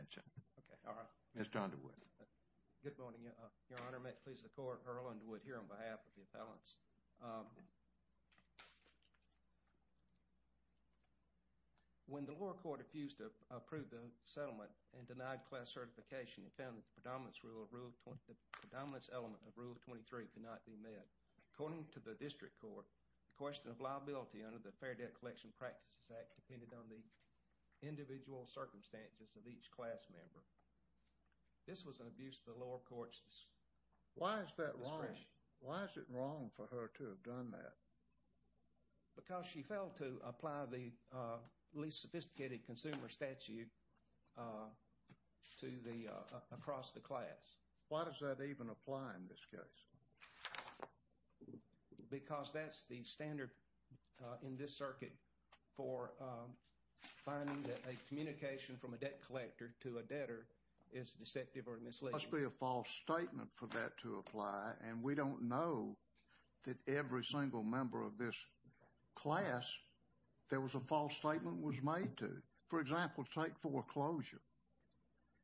Mr. Underwood. Good morning, Your Honor. May it please the Court, Earl Underwood here on behalf of the appellants. When the lower court refused to approve the settlement and denied class certification, it found that the predominance element of Rule 23 could not be met. According to the district court, the question of liability under the Fair Debt Collection Practices Act depended on the individual circumstances of each class member. This was an abuse of the lower court's discretion. Why is that wrong? Why is it wrong for her to have done that? Because she failed to apply the least sophisticated consumer statute to the, across the class. Why does that even apply in this case? Because that's the standard in this circuit for finding that a communication from a debt collector to a debtor is deceptive or misleading. It must be a false statement for that to apply, and we don't know that every single member of this class there was a false statement was made to. For example, take foreclosure.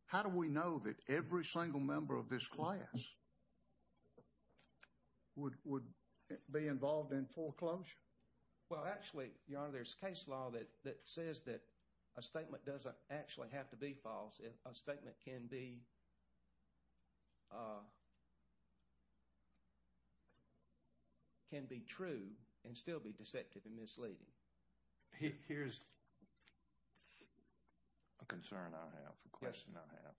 How do we know that every single member of this class would be involved in foreclosure? Well, actually, Your Honor, there's case law that says that a statement doesn't actually have to be false. A statement can be, can be true and still be deceptive and misleading. Here's a concern I have, a question I have.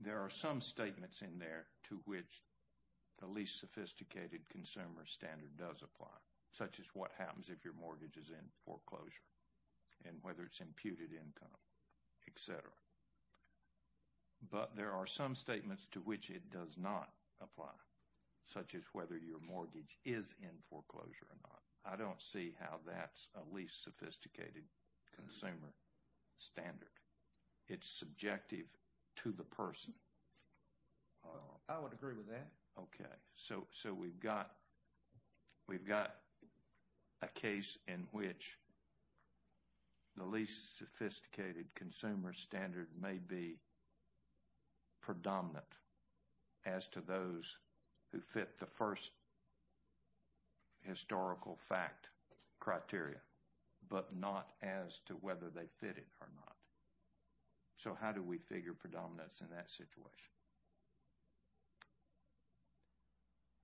There are some statements in there to which the least sophisticated consumer standard does apply, such as what happens if your mortgage is in foreclosure and whether it's imputed income, etc. But there are some statements to which it does not apply, such as whether your mortgage is in foreclosure or not. I don't see how that's a least sophisticated consumer standard. It's subjective to the person. I would agree with that. Okay. So we've got, we've got a case in which the least sophisticated consumer standard may be predominant as to those who fit the first historical fact criteria, but not as to whether they fit it or not. So how do we figure predominance in that situation?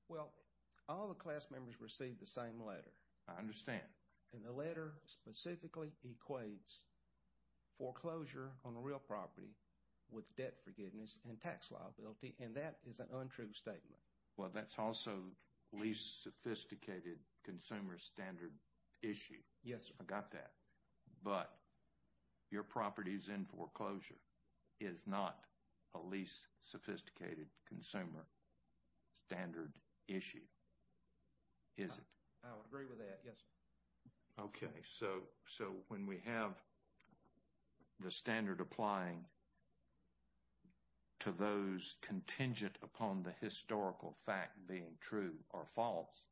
Well, all the class members received the same letter. I understand. And the letter specifically equates foreclosure on a real property with debt forgiveness and tax liability, and that is an untrue statement. Well, that's also least sophisticated consumer standard issue. Yes, sir. I got that. But your properties in foreclosure is not a least sophisticated consumer standard issue, is it? I would agree with that, yes, sir. Okay. So when we have the standard applying to those contingent upon the historical fact being true or false,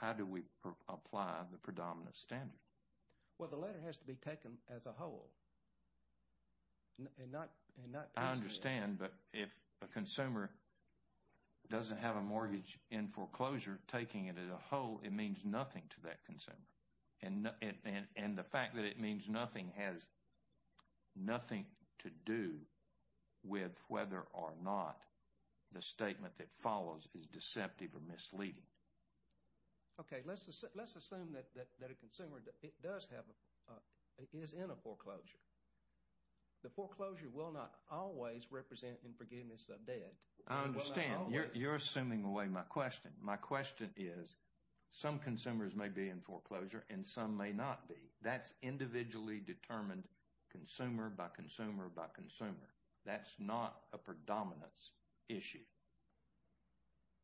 how do we apply the predominant standard? Well, the letter has to be taken as a whole and not presented. I understand. But if a consumer doesn't have a mortgage in foreclosure, taking it as a whole, it means nothing to that consumer. And the fact that it means nothing has nothing to do with whether or not the statement that follows is deceptive or misleading. Okay. Let's assume that a consumer is in a foreclosure. The foreclosure will not always represent in forgiveness of debt. I understand. You're assuming away my question. My question is some consumers may be in foreclosure and some may not be. That's individually determined consumer by consumer by consumer. That's not a predominance issue,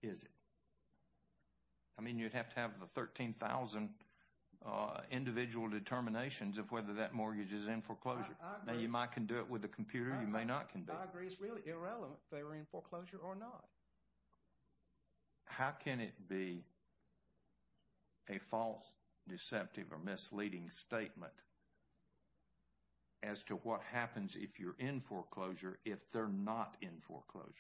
is it? I mean, you'd have to have the 13,000 individual determinations of whether that mortgage is in foreclosure. I agree. Now, you might can do it with a computer. You may not can do it. I agree. It's really irrelevant if they were in foreclosure or not. How can it be a false, deceptive, or misleading statement as to what happens if you're in foreclosure if they're not in foreclosure?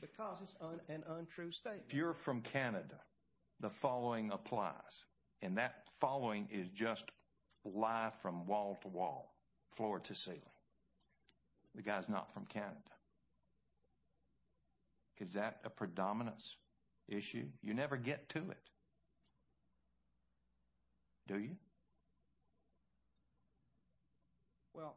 Because it's an untrue statement. If you're from Canada, the following applies, and that following is just lie from wall to wall, floor to ceiling. The guy's not from Canada. Is that a predominance issue? You never get to it, do you? Well,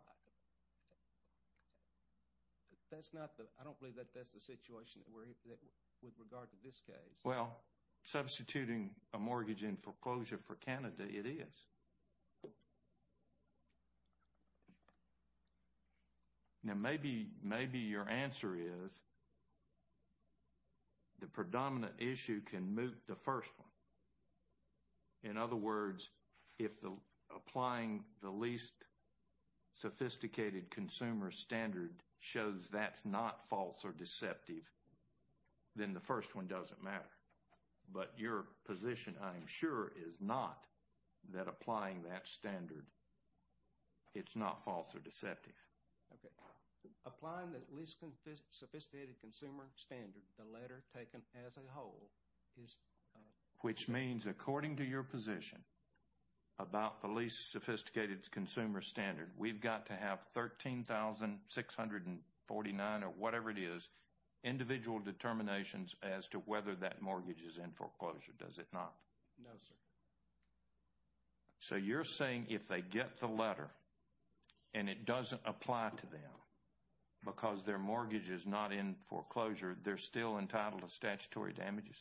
I don't believe that that's the situation with regard to this case. Well, substituting a mortgage in foreclosure for Canada, it is. Now, maybe your answer is the predominant issue can moot the first one. In other words, if applying the least sophisticated consumer standard shows that's not false or deceptive, then the first one doesn't matter. But your position, I'm sure, is not that applying that standard, it's not false or deceptive. Okay. Applying the least sophisticated consumer standard, the letter taken as a whole, is false. Which means, according to your position about the least sophisticated consumer standard, we've got to have 13,649 or whatever it is, individual determinations as to whether that mortgage is in foreclosure. Does it not? No, sir. So, you're saying if they get the letter, and it doesn't apply to them because their mortgage is not in foreclosure, they're still entitled to statutory damages?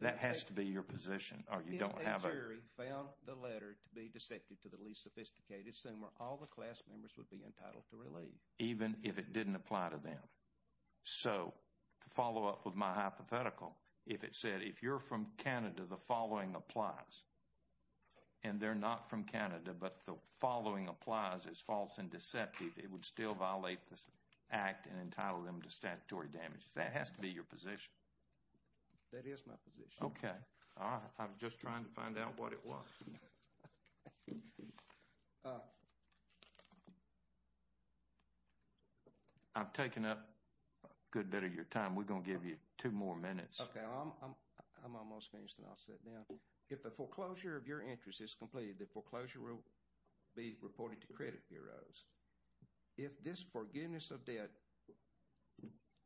That has to be your position, or you don't have it? If the query found the letter to be deceptive to the least sophisticated consumer, all the class members would be entitled to relief. Even if it didn't apply to them? So, to follow up with my hypothetical, if it said, if you're from Canada, the following applies, and they're not from Canada, but the following applies as false and deceptive, it would still violate this act and entitle them to statutory damages? That has to be your position. That is my position. Okay. I'm just trying to find out what it was. I've taken up a good bit of your time. We're going to give you two more minutes. Okay. I'm almost finished, and I'll sit down. If the foreclosure of your interest is completed, the foreclosure will be reported to credit bureaus. If this forgiveness of debt,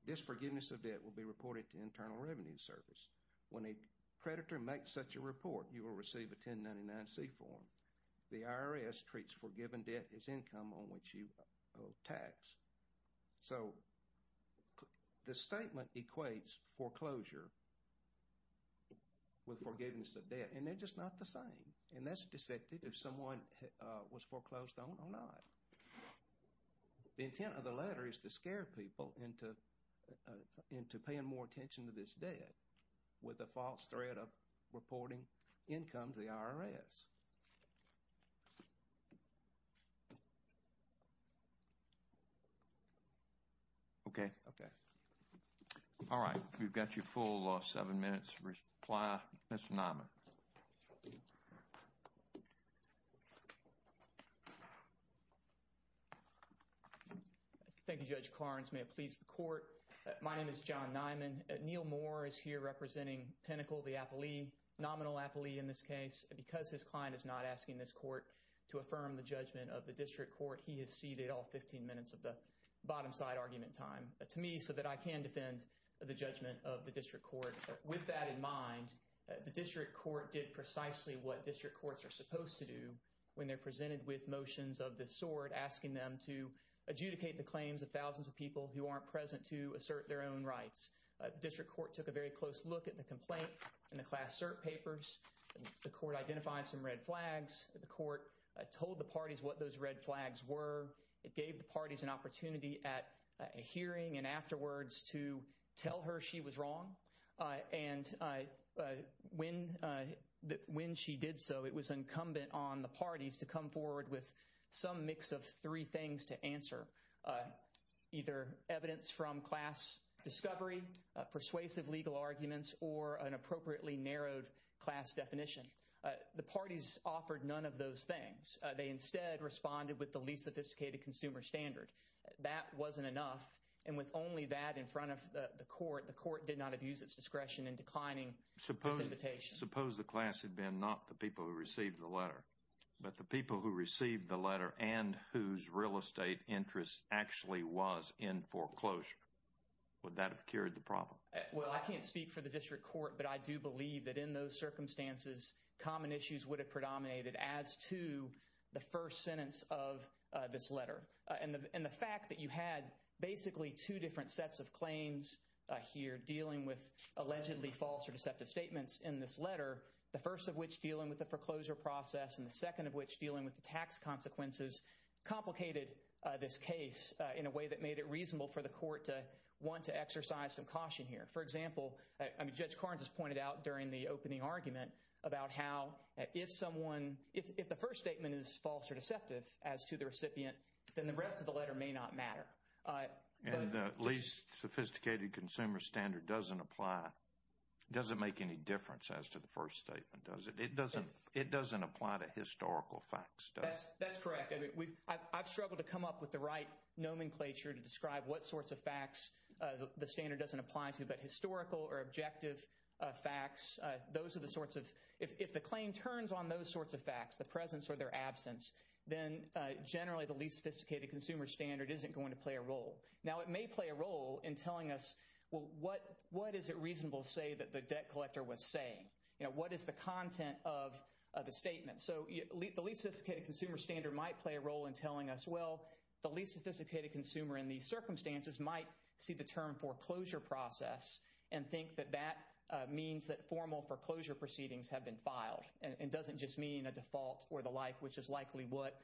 this forgiveness of debt will be reported to Internal Revenue Service. When a creditor makes such a report, you will receive a 1099-C form. The IRS treats forgiven debt as income on which you owe tax. So, the statement equates foreclosure with forgiveness of debt, and they're just not the same. And that's deceptive if someone was foreclosed on or not. The intent of the letter is to scare people into paying more attention to this debt with a false threat of reporting income to the IRS. Okay. Okay. All right. We've got your full seven minutes. Reply, Mr. Nyman. Thank you, Judge Clarence. May it please the court. My name is John Nyman. Neil Moore is here representing Pinnacle, the appellee, nominal appellee in this case. Because his client is not asking this court to affirm the judgment of the district court, he has ceded all 15 minutes of the bottom side argument time to me so that I can defend the judgment of the district court. With that in mind, the district court did precisely what district courts are supposed to do when they're presented with motions of this sort, asking them to adjudicate the claims of thousands of people who aren't present to assert their own rights. The district court took a very close look at the complaint in the class cert papers. The court identified some red flags. The court told the parties what those red flags were. It gave the parties an opportunity at a hearing and afterwards to tell her she was wrong. And when she did so, it was incumbent on the parties to come forward with some mix of three things to answer. Either evidence from class discovery, persuasive legal arguments, or an appropriately narrowed class definition. The parties offered none of those things. They instead responded with the least sophisticated consumer standard. That wasn't enough. And with only that in front of the court, the court did not abuse its discretion in declining this invitation. Suppose the class had been not the people who received the letter, but the people who received the letter and whose real estate interest actually was in foreclosure. Would that have cured the problem? Well, I can't speak for the district court, but I do believe that in those circumstances, common issues would have predominated as to the first sentence of this letter. And the fact that you had basically two different sets of claims here dealing with allegedly false or deceptive statements in this letter, the first of which dealing with the foreclosure process and the second of which dealing with the tax consequences, complicated this case in a way that made it reasonable for the court to want to exercise some caution here. For example, Judge Carnes has pointed out during the opening argument about how if someone, if the first statement is false or deceptive as to the recipient, then the rest of the letter may not matter. And the least sophisticated consumer standard doesn't apply, doesn't make any difference as to the first statement, does it? It doesn't apply to historical facts, does it? That's correct. I've struggled to come up with the right nomenclature to describe what sorts of facts the standard doesn't apply to, but historical or objective facts, those are the sorts of, if the claim turns on those sorts of facts, the presence or their absence, then generally the least sophisticated consumer standard isn't going to play a role. Now, it may play a role in telling us, well, what is it reasonable to say that the debt collector was saying? You know, what is the content of the statement? So the least sophisticated consumer standard might play a role in telling us, well, the least sophisticated consumer in these circumstances might see the term foreclosure process and think that that means that formal foreclosure proceedings have been filed and doesn't just mean a default or the like, which is likely what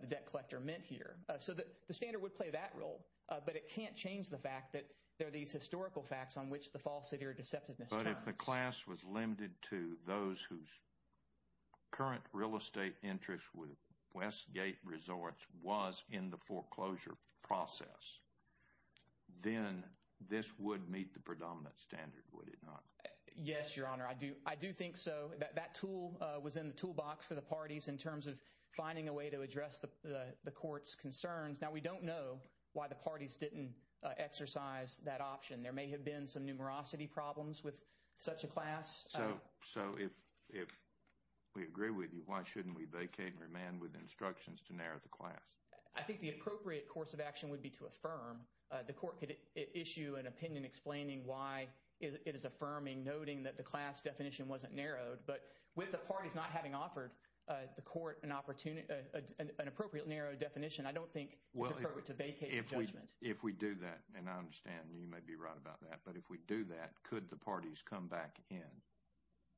the debt collector meant here. So the standard would play that role, but it can't change the fact that there are these historical facts on which the false, But if the class was limited to those whose current real estate interest with Westgate Resorts was in the foreclosure process, then this would meet the predominant standard, would it not? Yes, Your Honor, I do think so. That tool was in the toolbox for the parties in terms of finding a way to address the court's concerns. Now, we don't know why the parties didn't exercise that option. There may have been some numerosity problems with such a class. So if we agree with you, why shouldn't we vacate and remand with instructions to narrow the class? I think the appropriate course of action would be to affirm. The court could issue an opinion explaining why it is affirming, noting that the class definition wasn't narrowed. But with the parties not having offered the court an appropriate narrow definition, I don't think it's appropriate to vacate the judgment. If we do that, and I understand you may be right about that, but if we do that, could the parties come back in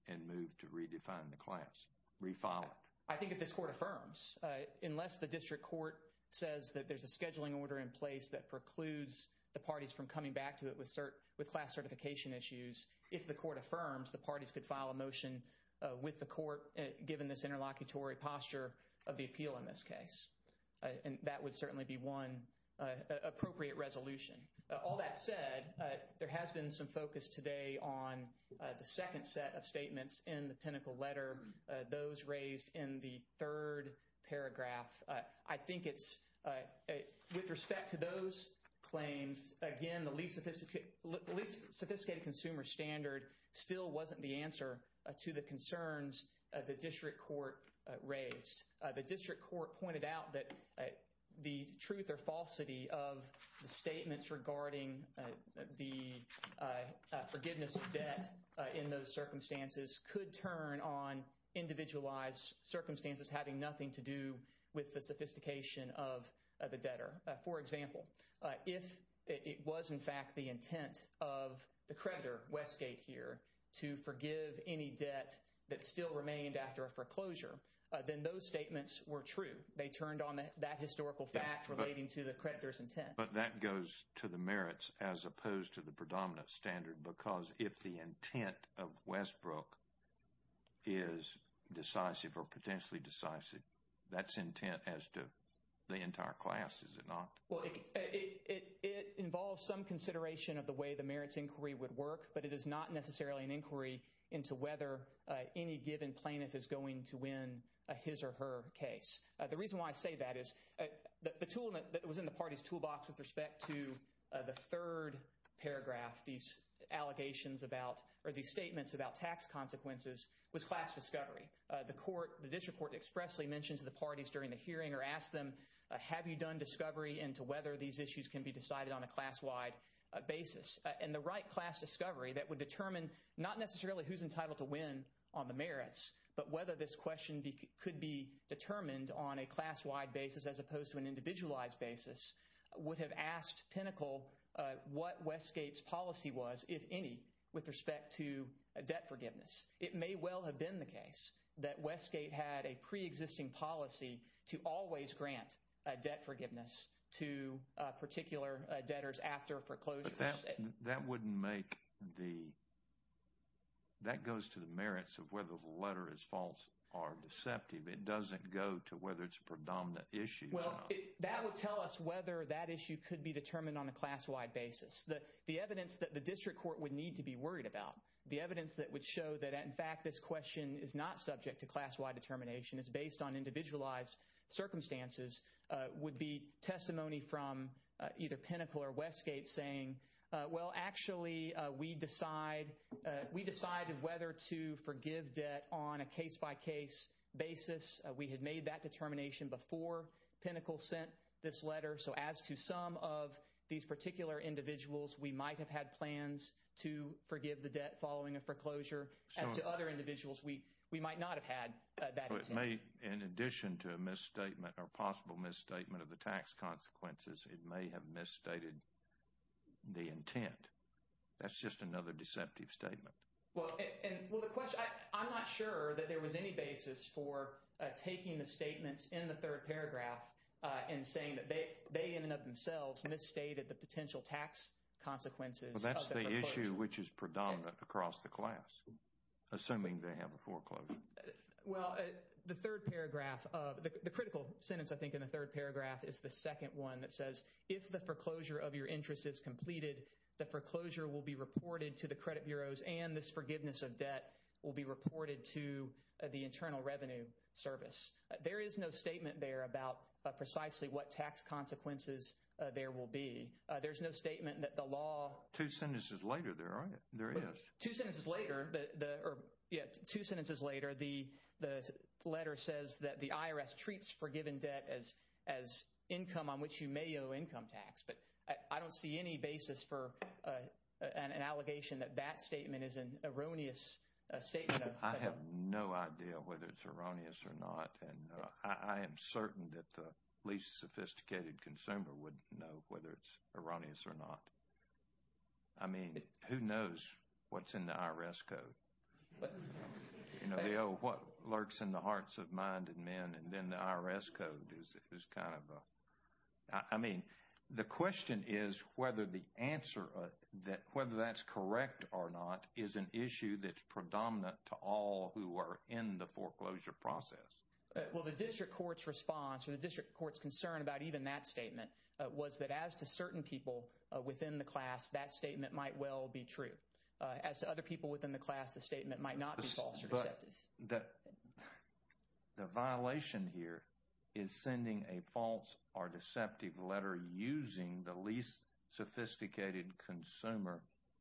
and move to redefine the class, refile it? I think if this court affirms, unless the district court says that there's a scheduling order in place that precludes the parties from coming back to it with class certification issues, if the court affirms, the parties could file a motion with the court, given this interlocutory posture of the appeal in this case. And that would certainly be one appropriate resolution. All that said, there has been some focus today on the second set of statements in the pinnacle letter, those raised in the third paragraph. I think it's, with respect to those claims, again, the least sophisticated consumer standard still wasn't the answer to the concerns the district court raised. The district court pointed out that the truth or falsity of the statements regarding the forgiveness of debt in those circumstances could turn on individualized circumstances having nothing to do with the sophistication of the debtor. For example, if it was in fact the intent of the creditor, Westgate here, to forgive any debt that still remained after a foreclosure, then those statements were true. They turned on that historical fact relating to the creditor's intent. But that goes to the merits as opposed to the predominant standard, because if the intent of Westbrook is decisive or potentially decisive, that's intent as to the entire class, is it not? Well, it involves some consideration of the way the merits inquiry would work, but it is not necessarily an inquiry into whether any given plaintiff is going to win a his or her case. The reason why I say that is the tool that was in the party's toolbox with respect to the third paragraph, these allegations about, or these statements about tax consequences, was class discovery. The district court expressly mentioned to the parties during the hearing or asked them, have you done discovery into whether these issues can be decided on a class-wide basis? And the right class discovery that would determine not necessarily who's entitled to win on the merits, but whether this question could be determined on a class-wide basis as opposed to an individualized basis, would have asked Pinnacle what Westgate's policy was, if any, with respect to debt forgiveness. It may well have been the case that Westgate had a pre-existing policy to always grant debt forgiveness to particular debtors after a foreclosure. But that wouldn't make the, that goes to the merits of whether the letter is false or deceptive. It doesn't go to whether it's a predominant issue. Well, that would tell us whether that issue could be determined on a class-wide basis. The evidence that the district court would need to be worried about, the evidence that would show that in fact this question is not subject to class-wide determination, is based on individualized circumstances, would be testimony from either Pinnacle or Westgate saying, Well, actually, we decide, we decided whether to forgive debt on a case-by-case basis. We had made that determination before Pinnacle sent this letter. So, as to some of these particular individuals, we might have had plans to forgive the debt following a foreclosure. As to other individuals, we might not have had that intent. It may, in addition to a misstatement or possible misstatement of the tax consequences, it may have misstated the intent. That's just another deceptive statement. Well, the question, I'm not sure that there was any basis for taking the statements in the third paragraph and saying that they in and of themselves misstated the potential tax consequences. Well, that's the issue which is predominant across the class, assuming they have a foreclosure. Well, the third paragraph, the critical sentence, I think, in the third paragraph is the second one that says, If the foreclosure of your interest is completed, the foreclosure will be reported to the credit bureaus and this forgiveness of debt will be reported to the Internal Revenue Service. There is no statement there about precisely what tax consequences there will be. There's no statement that the law... Two sentences later, there is. Two sentences later, the letter says that the IRS treats forgiven debt as income on which you may owe income tax. But I don't see any basis for an allegation that that statement is an erroneous statement. I have no idea whether it's erroneous or not, and I am certain that the least sophisticated consumer wouldn't know whether it's erroneous or not. I mean, who knows what's in the IRS code? You know, they owe what lurks in the hearts of minded men, and then the IRS code is kind of a... I mean, the question is whether the answer, whether that's correct or not, is an issue that's predominant to all who are in the foreclosure process. Well, the district court's response or the district court's concern about even that statement was that as to certain people within the class, that statement might well be true. As to other people within the class, the statement might not be false or deceptive. The violation here is sending a false or deceptive letter using the least sophisticated consumer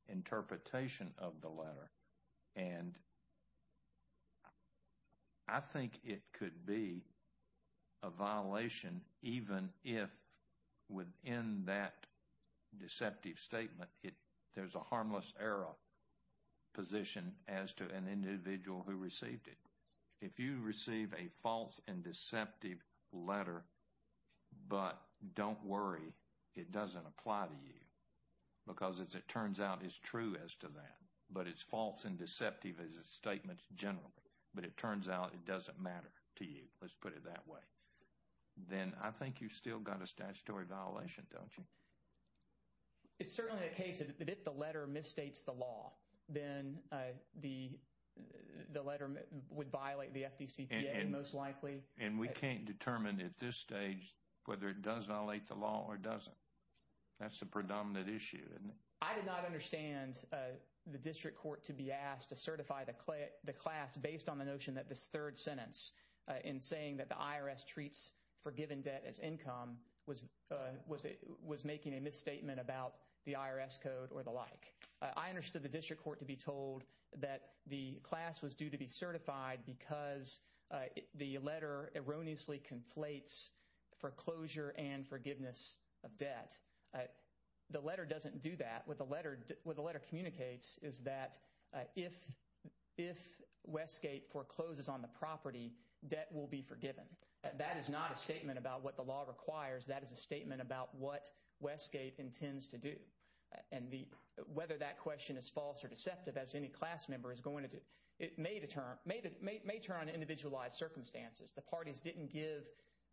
interpretation of the letter, and I think it could be a violation even if within that deceptive statement, there's a harmless error position as to an individual who received it. If you receive a false and deceptive letter, but don't worry, it doesn't apply to you because as it turns out, it's true as to that, but it's false and deceptive as a statement generally, but it turns out it doesn't matter to you. Let's put it that way. Then I think you've still got a statutory violation, don't you? It's certainly a case that if the letter misstates the law, then the letter would violate the FDCPA most likely. And we can't determine at this stage whether it does violate the law or doesn't. That's a predominant issue, isn't it? I did not understand the district court to be asked to certify the class based on the notion that this third sentence in saying that the IRS treats forgiven debt as income was making a misstatement about the IRS code or the like. I understood the district court to be told that the class was due to be certified because the letter erroneously conflates foreclosure and forgiveness of debt. The letter doesn't do that. What the letter communicates is that if Westgate forecloses on the property, debt will be forgiven. That is not a statement about what the law requires. That is a statement about what Westgate intends to do. And whether that question is false or deceptive, as any class member is going to do, it may turn on individualized circumstances. The parties didn't give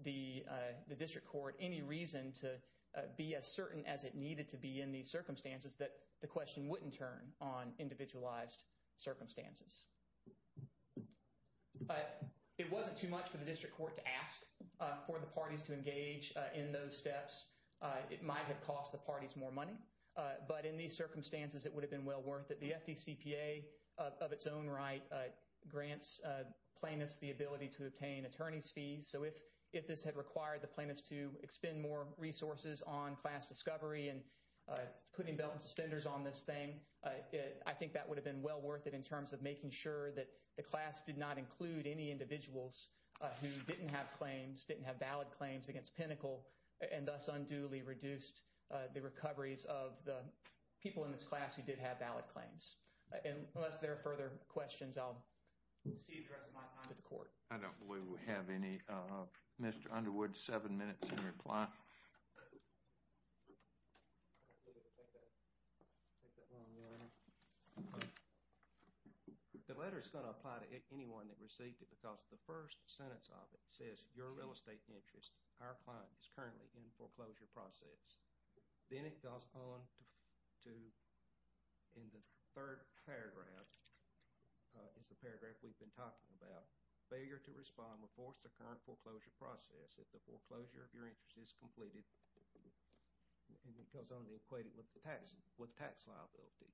the district court any reason to be as certain as it needed to be in these circumstances that the question wouldn't turn on individualized circumstances. It wasn't too much for the district court to ask for the parties to engage in those steps. It might have cost the parties more money. But in these circumstances, it would have been well worth it. The FDCPA of its own right grants plaintiffs the ability to obtain attorney's fees. So if this had required the plaintiffs to expend more resources on class discovery and putting belt and suspenders on this thing, I think that would have been well worth it in terms of making sure that the class did not include any individuals who didn't have claims, didn't have valid claims against Pinnacle and thus unduly reduced the recoveries of the people in this class who did have valid claims. Unless there are further questions, I'll cede the rest of my time to the court. I don't believe we have any. Mr. Underwood, seven minutes in reply. The letter is going to apply to anyone that received it because the first sentence of it says, your real estate interest, our client, is currently in foreclosure process. Then it goes on to, in the third paragraph, is the paragraph we've been talking about. Failure to respond will force the current foreclosure process if the foreclosure of your interest is completed. And it goes on to equate it with tax liability.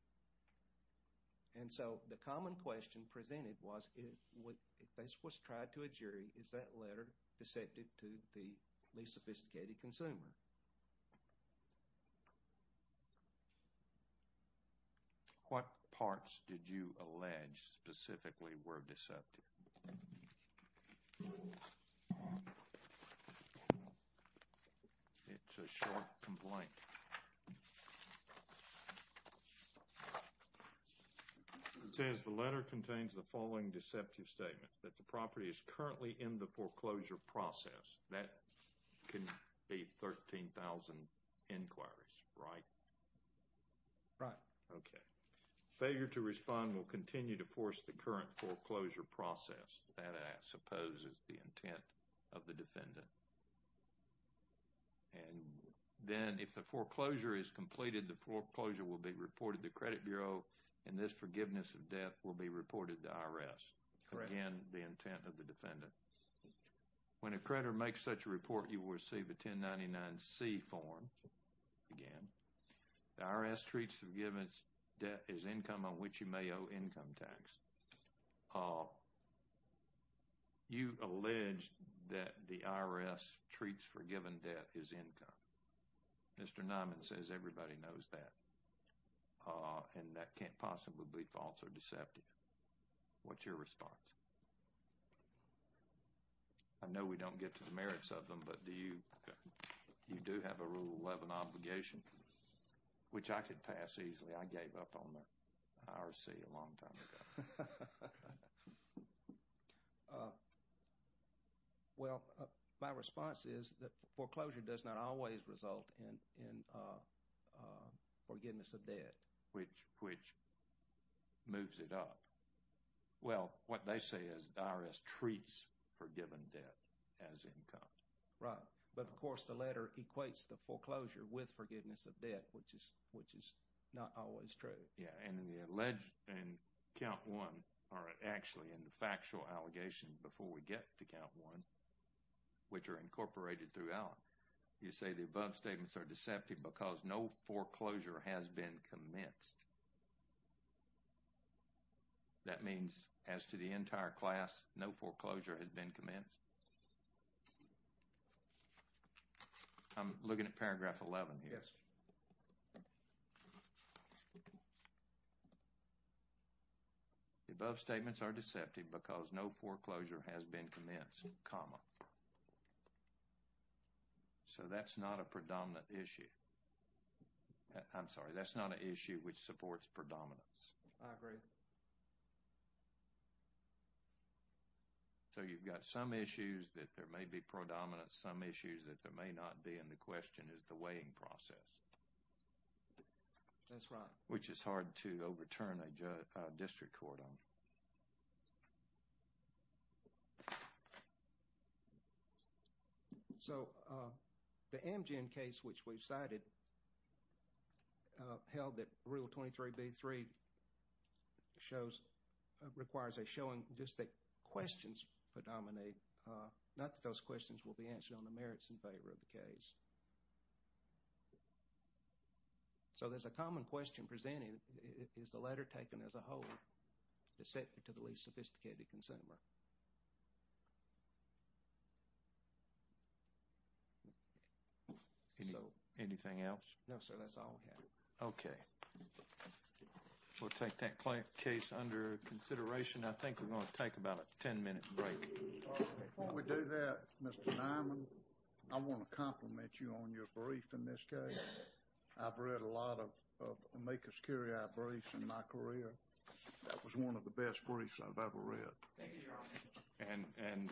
And so the common question presented was, if this was tried to a jury, is that letter deceptive to the least sophisticated consumer? What parts did you allege specifically were deceptive? It's a short complaint. It says the letter contains the following deceptive statements. That the property is currently in the foreclosure process. That can be 13,000 inquiries, right? Right. Okay. Failure to respond will continue to force the current foreclosure process. And then, if the foreclosure is completed, the foreclosure will be reported to the credit bureau. And this forgiveness of debt will be reported to the IRS. Correct. Again, the intent of the defendant. When a creditor makes such a report, you will receive a 1099-C form. Again, the IRS treats forgiveness of debt as income on which you may owe income tax. You allege that the IRS treats forgiven debt as income. Mr. Nyman says everybody knows that. And that can't possibly be false or deceptive. What's your response? I know we don't get to the merits of them, but do you? You do have a Rule 11 obligation, which I could pass easily. I gave up on the IRC a long time ago. Well, my response is that foreclosure does not always result in forgiveness of debt. Which moves it up. Well, what they say is the IRS treats forgiven debt as income. Right. But, of course, the letter equates the foreclosure with forgiveness of debt, which is not always true. Yeah. And the allege and Count 1 are actually in the factual allegation before we get to Count 1, which are incorporated throughout. You say the above statements are deceptive because no foreclosure has been commenced. That means, as to the entire class, no foreclosure has been commenced? I'm looking at paragraph 11 here. Yes. The above statements are deceptive because no foreclosure has been commenced, comma. So that's not a predominant issue. I'm sorry, that's not an issue which supports predominance. I agree. So you've got some issues that there may be predominance, some issues that there may not be, and the question is the weighing process. That's right. Which is hard to overturn a district court on. So, the Amgen case, which we've cited, held that Rule 23b-3 shows, requires a showing, just that questions predominate, not that those questions will be answered on the merits in favor of the case. So, there's a common question presented. Is the letter taken as a whole to the least sophisticated consumer? Anything else? No, sir, that's all we have. Okay. We'll take that case under consideration. I think we're going to take about a 10-minute break. Before we do that, Mr. Nyman, I want to compliment you on your brief in this case. I've read a lot of amicus curiae briefs in my career. That was one of the best briefs I've ever read. Thank you, Your Honor. And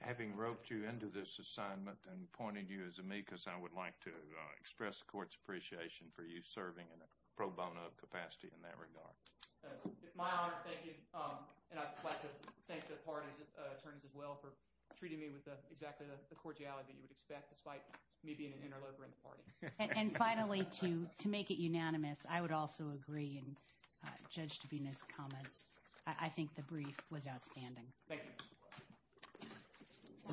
having roped you into this assignment and pointed you as amicus, I would like to express the court's appreciation for you serving in a pro bono capacity in that regard. It's my honor to thank you, and I'd like to thank the parties' attorneys as well for treating me with exactly the cordiality that you would expect, despite me being an interloper in the party. And finally, to make it unanimous, I would also agree, and judge to be in his comments, I think the brief was outstanding. Thank you. All rise. Thank you.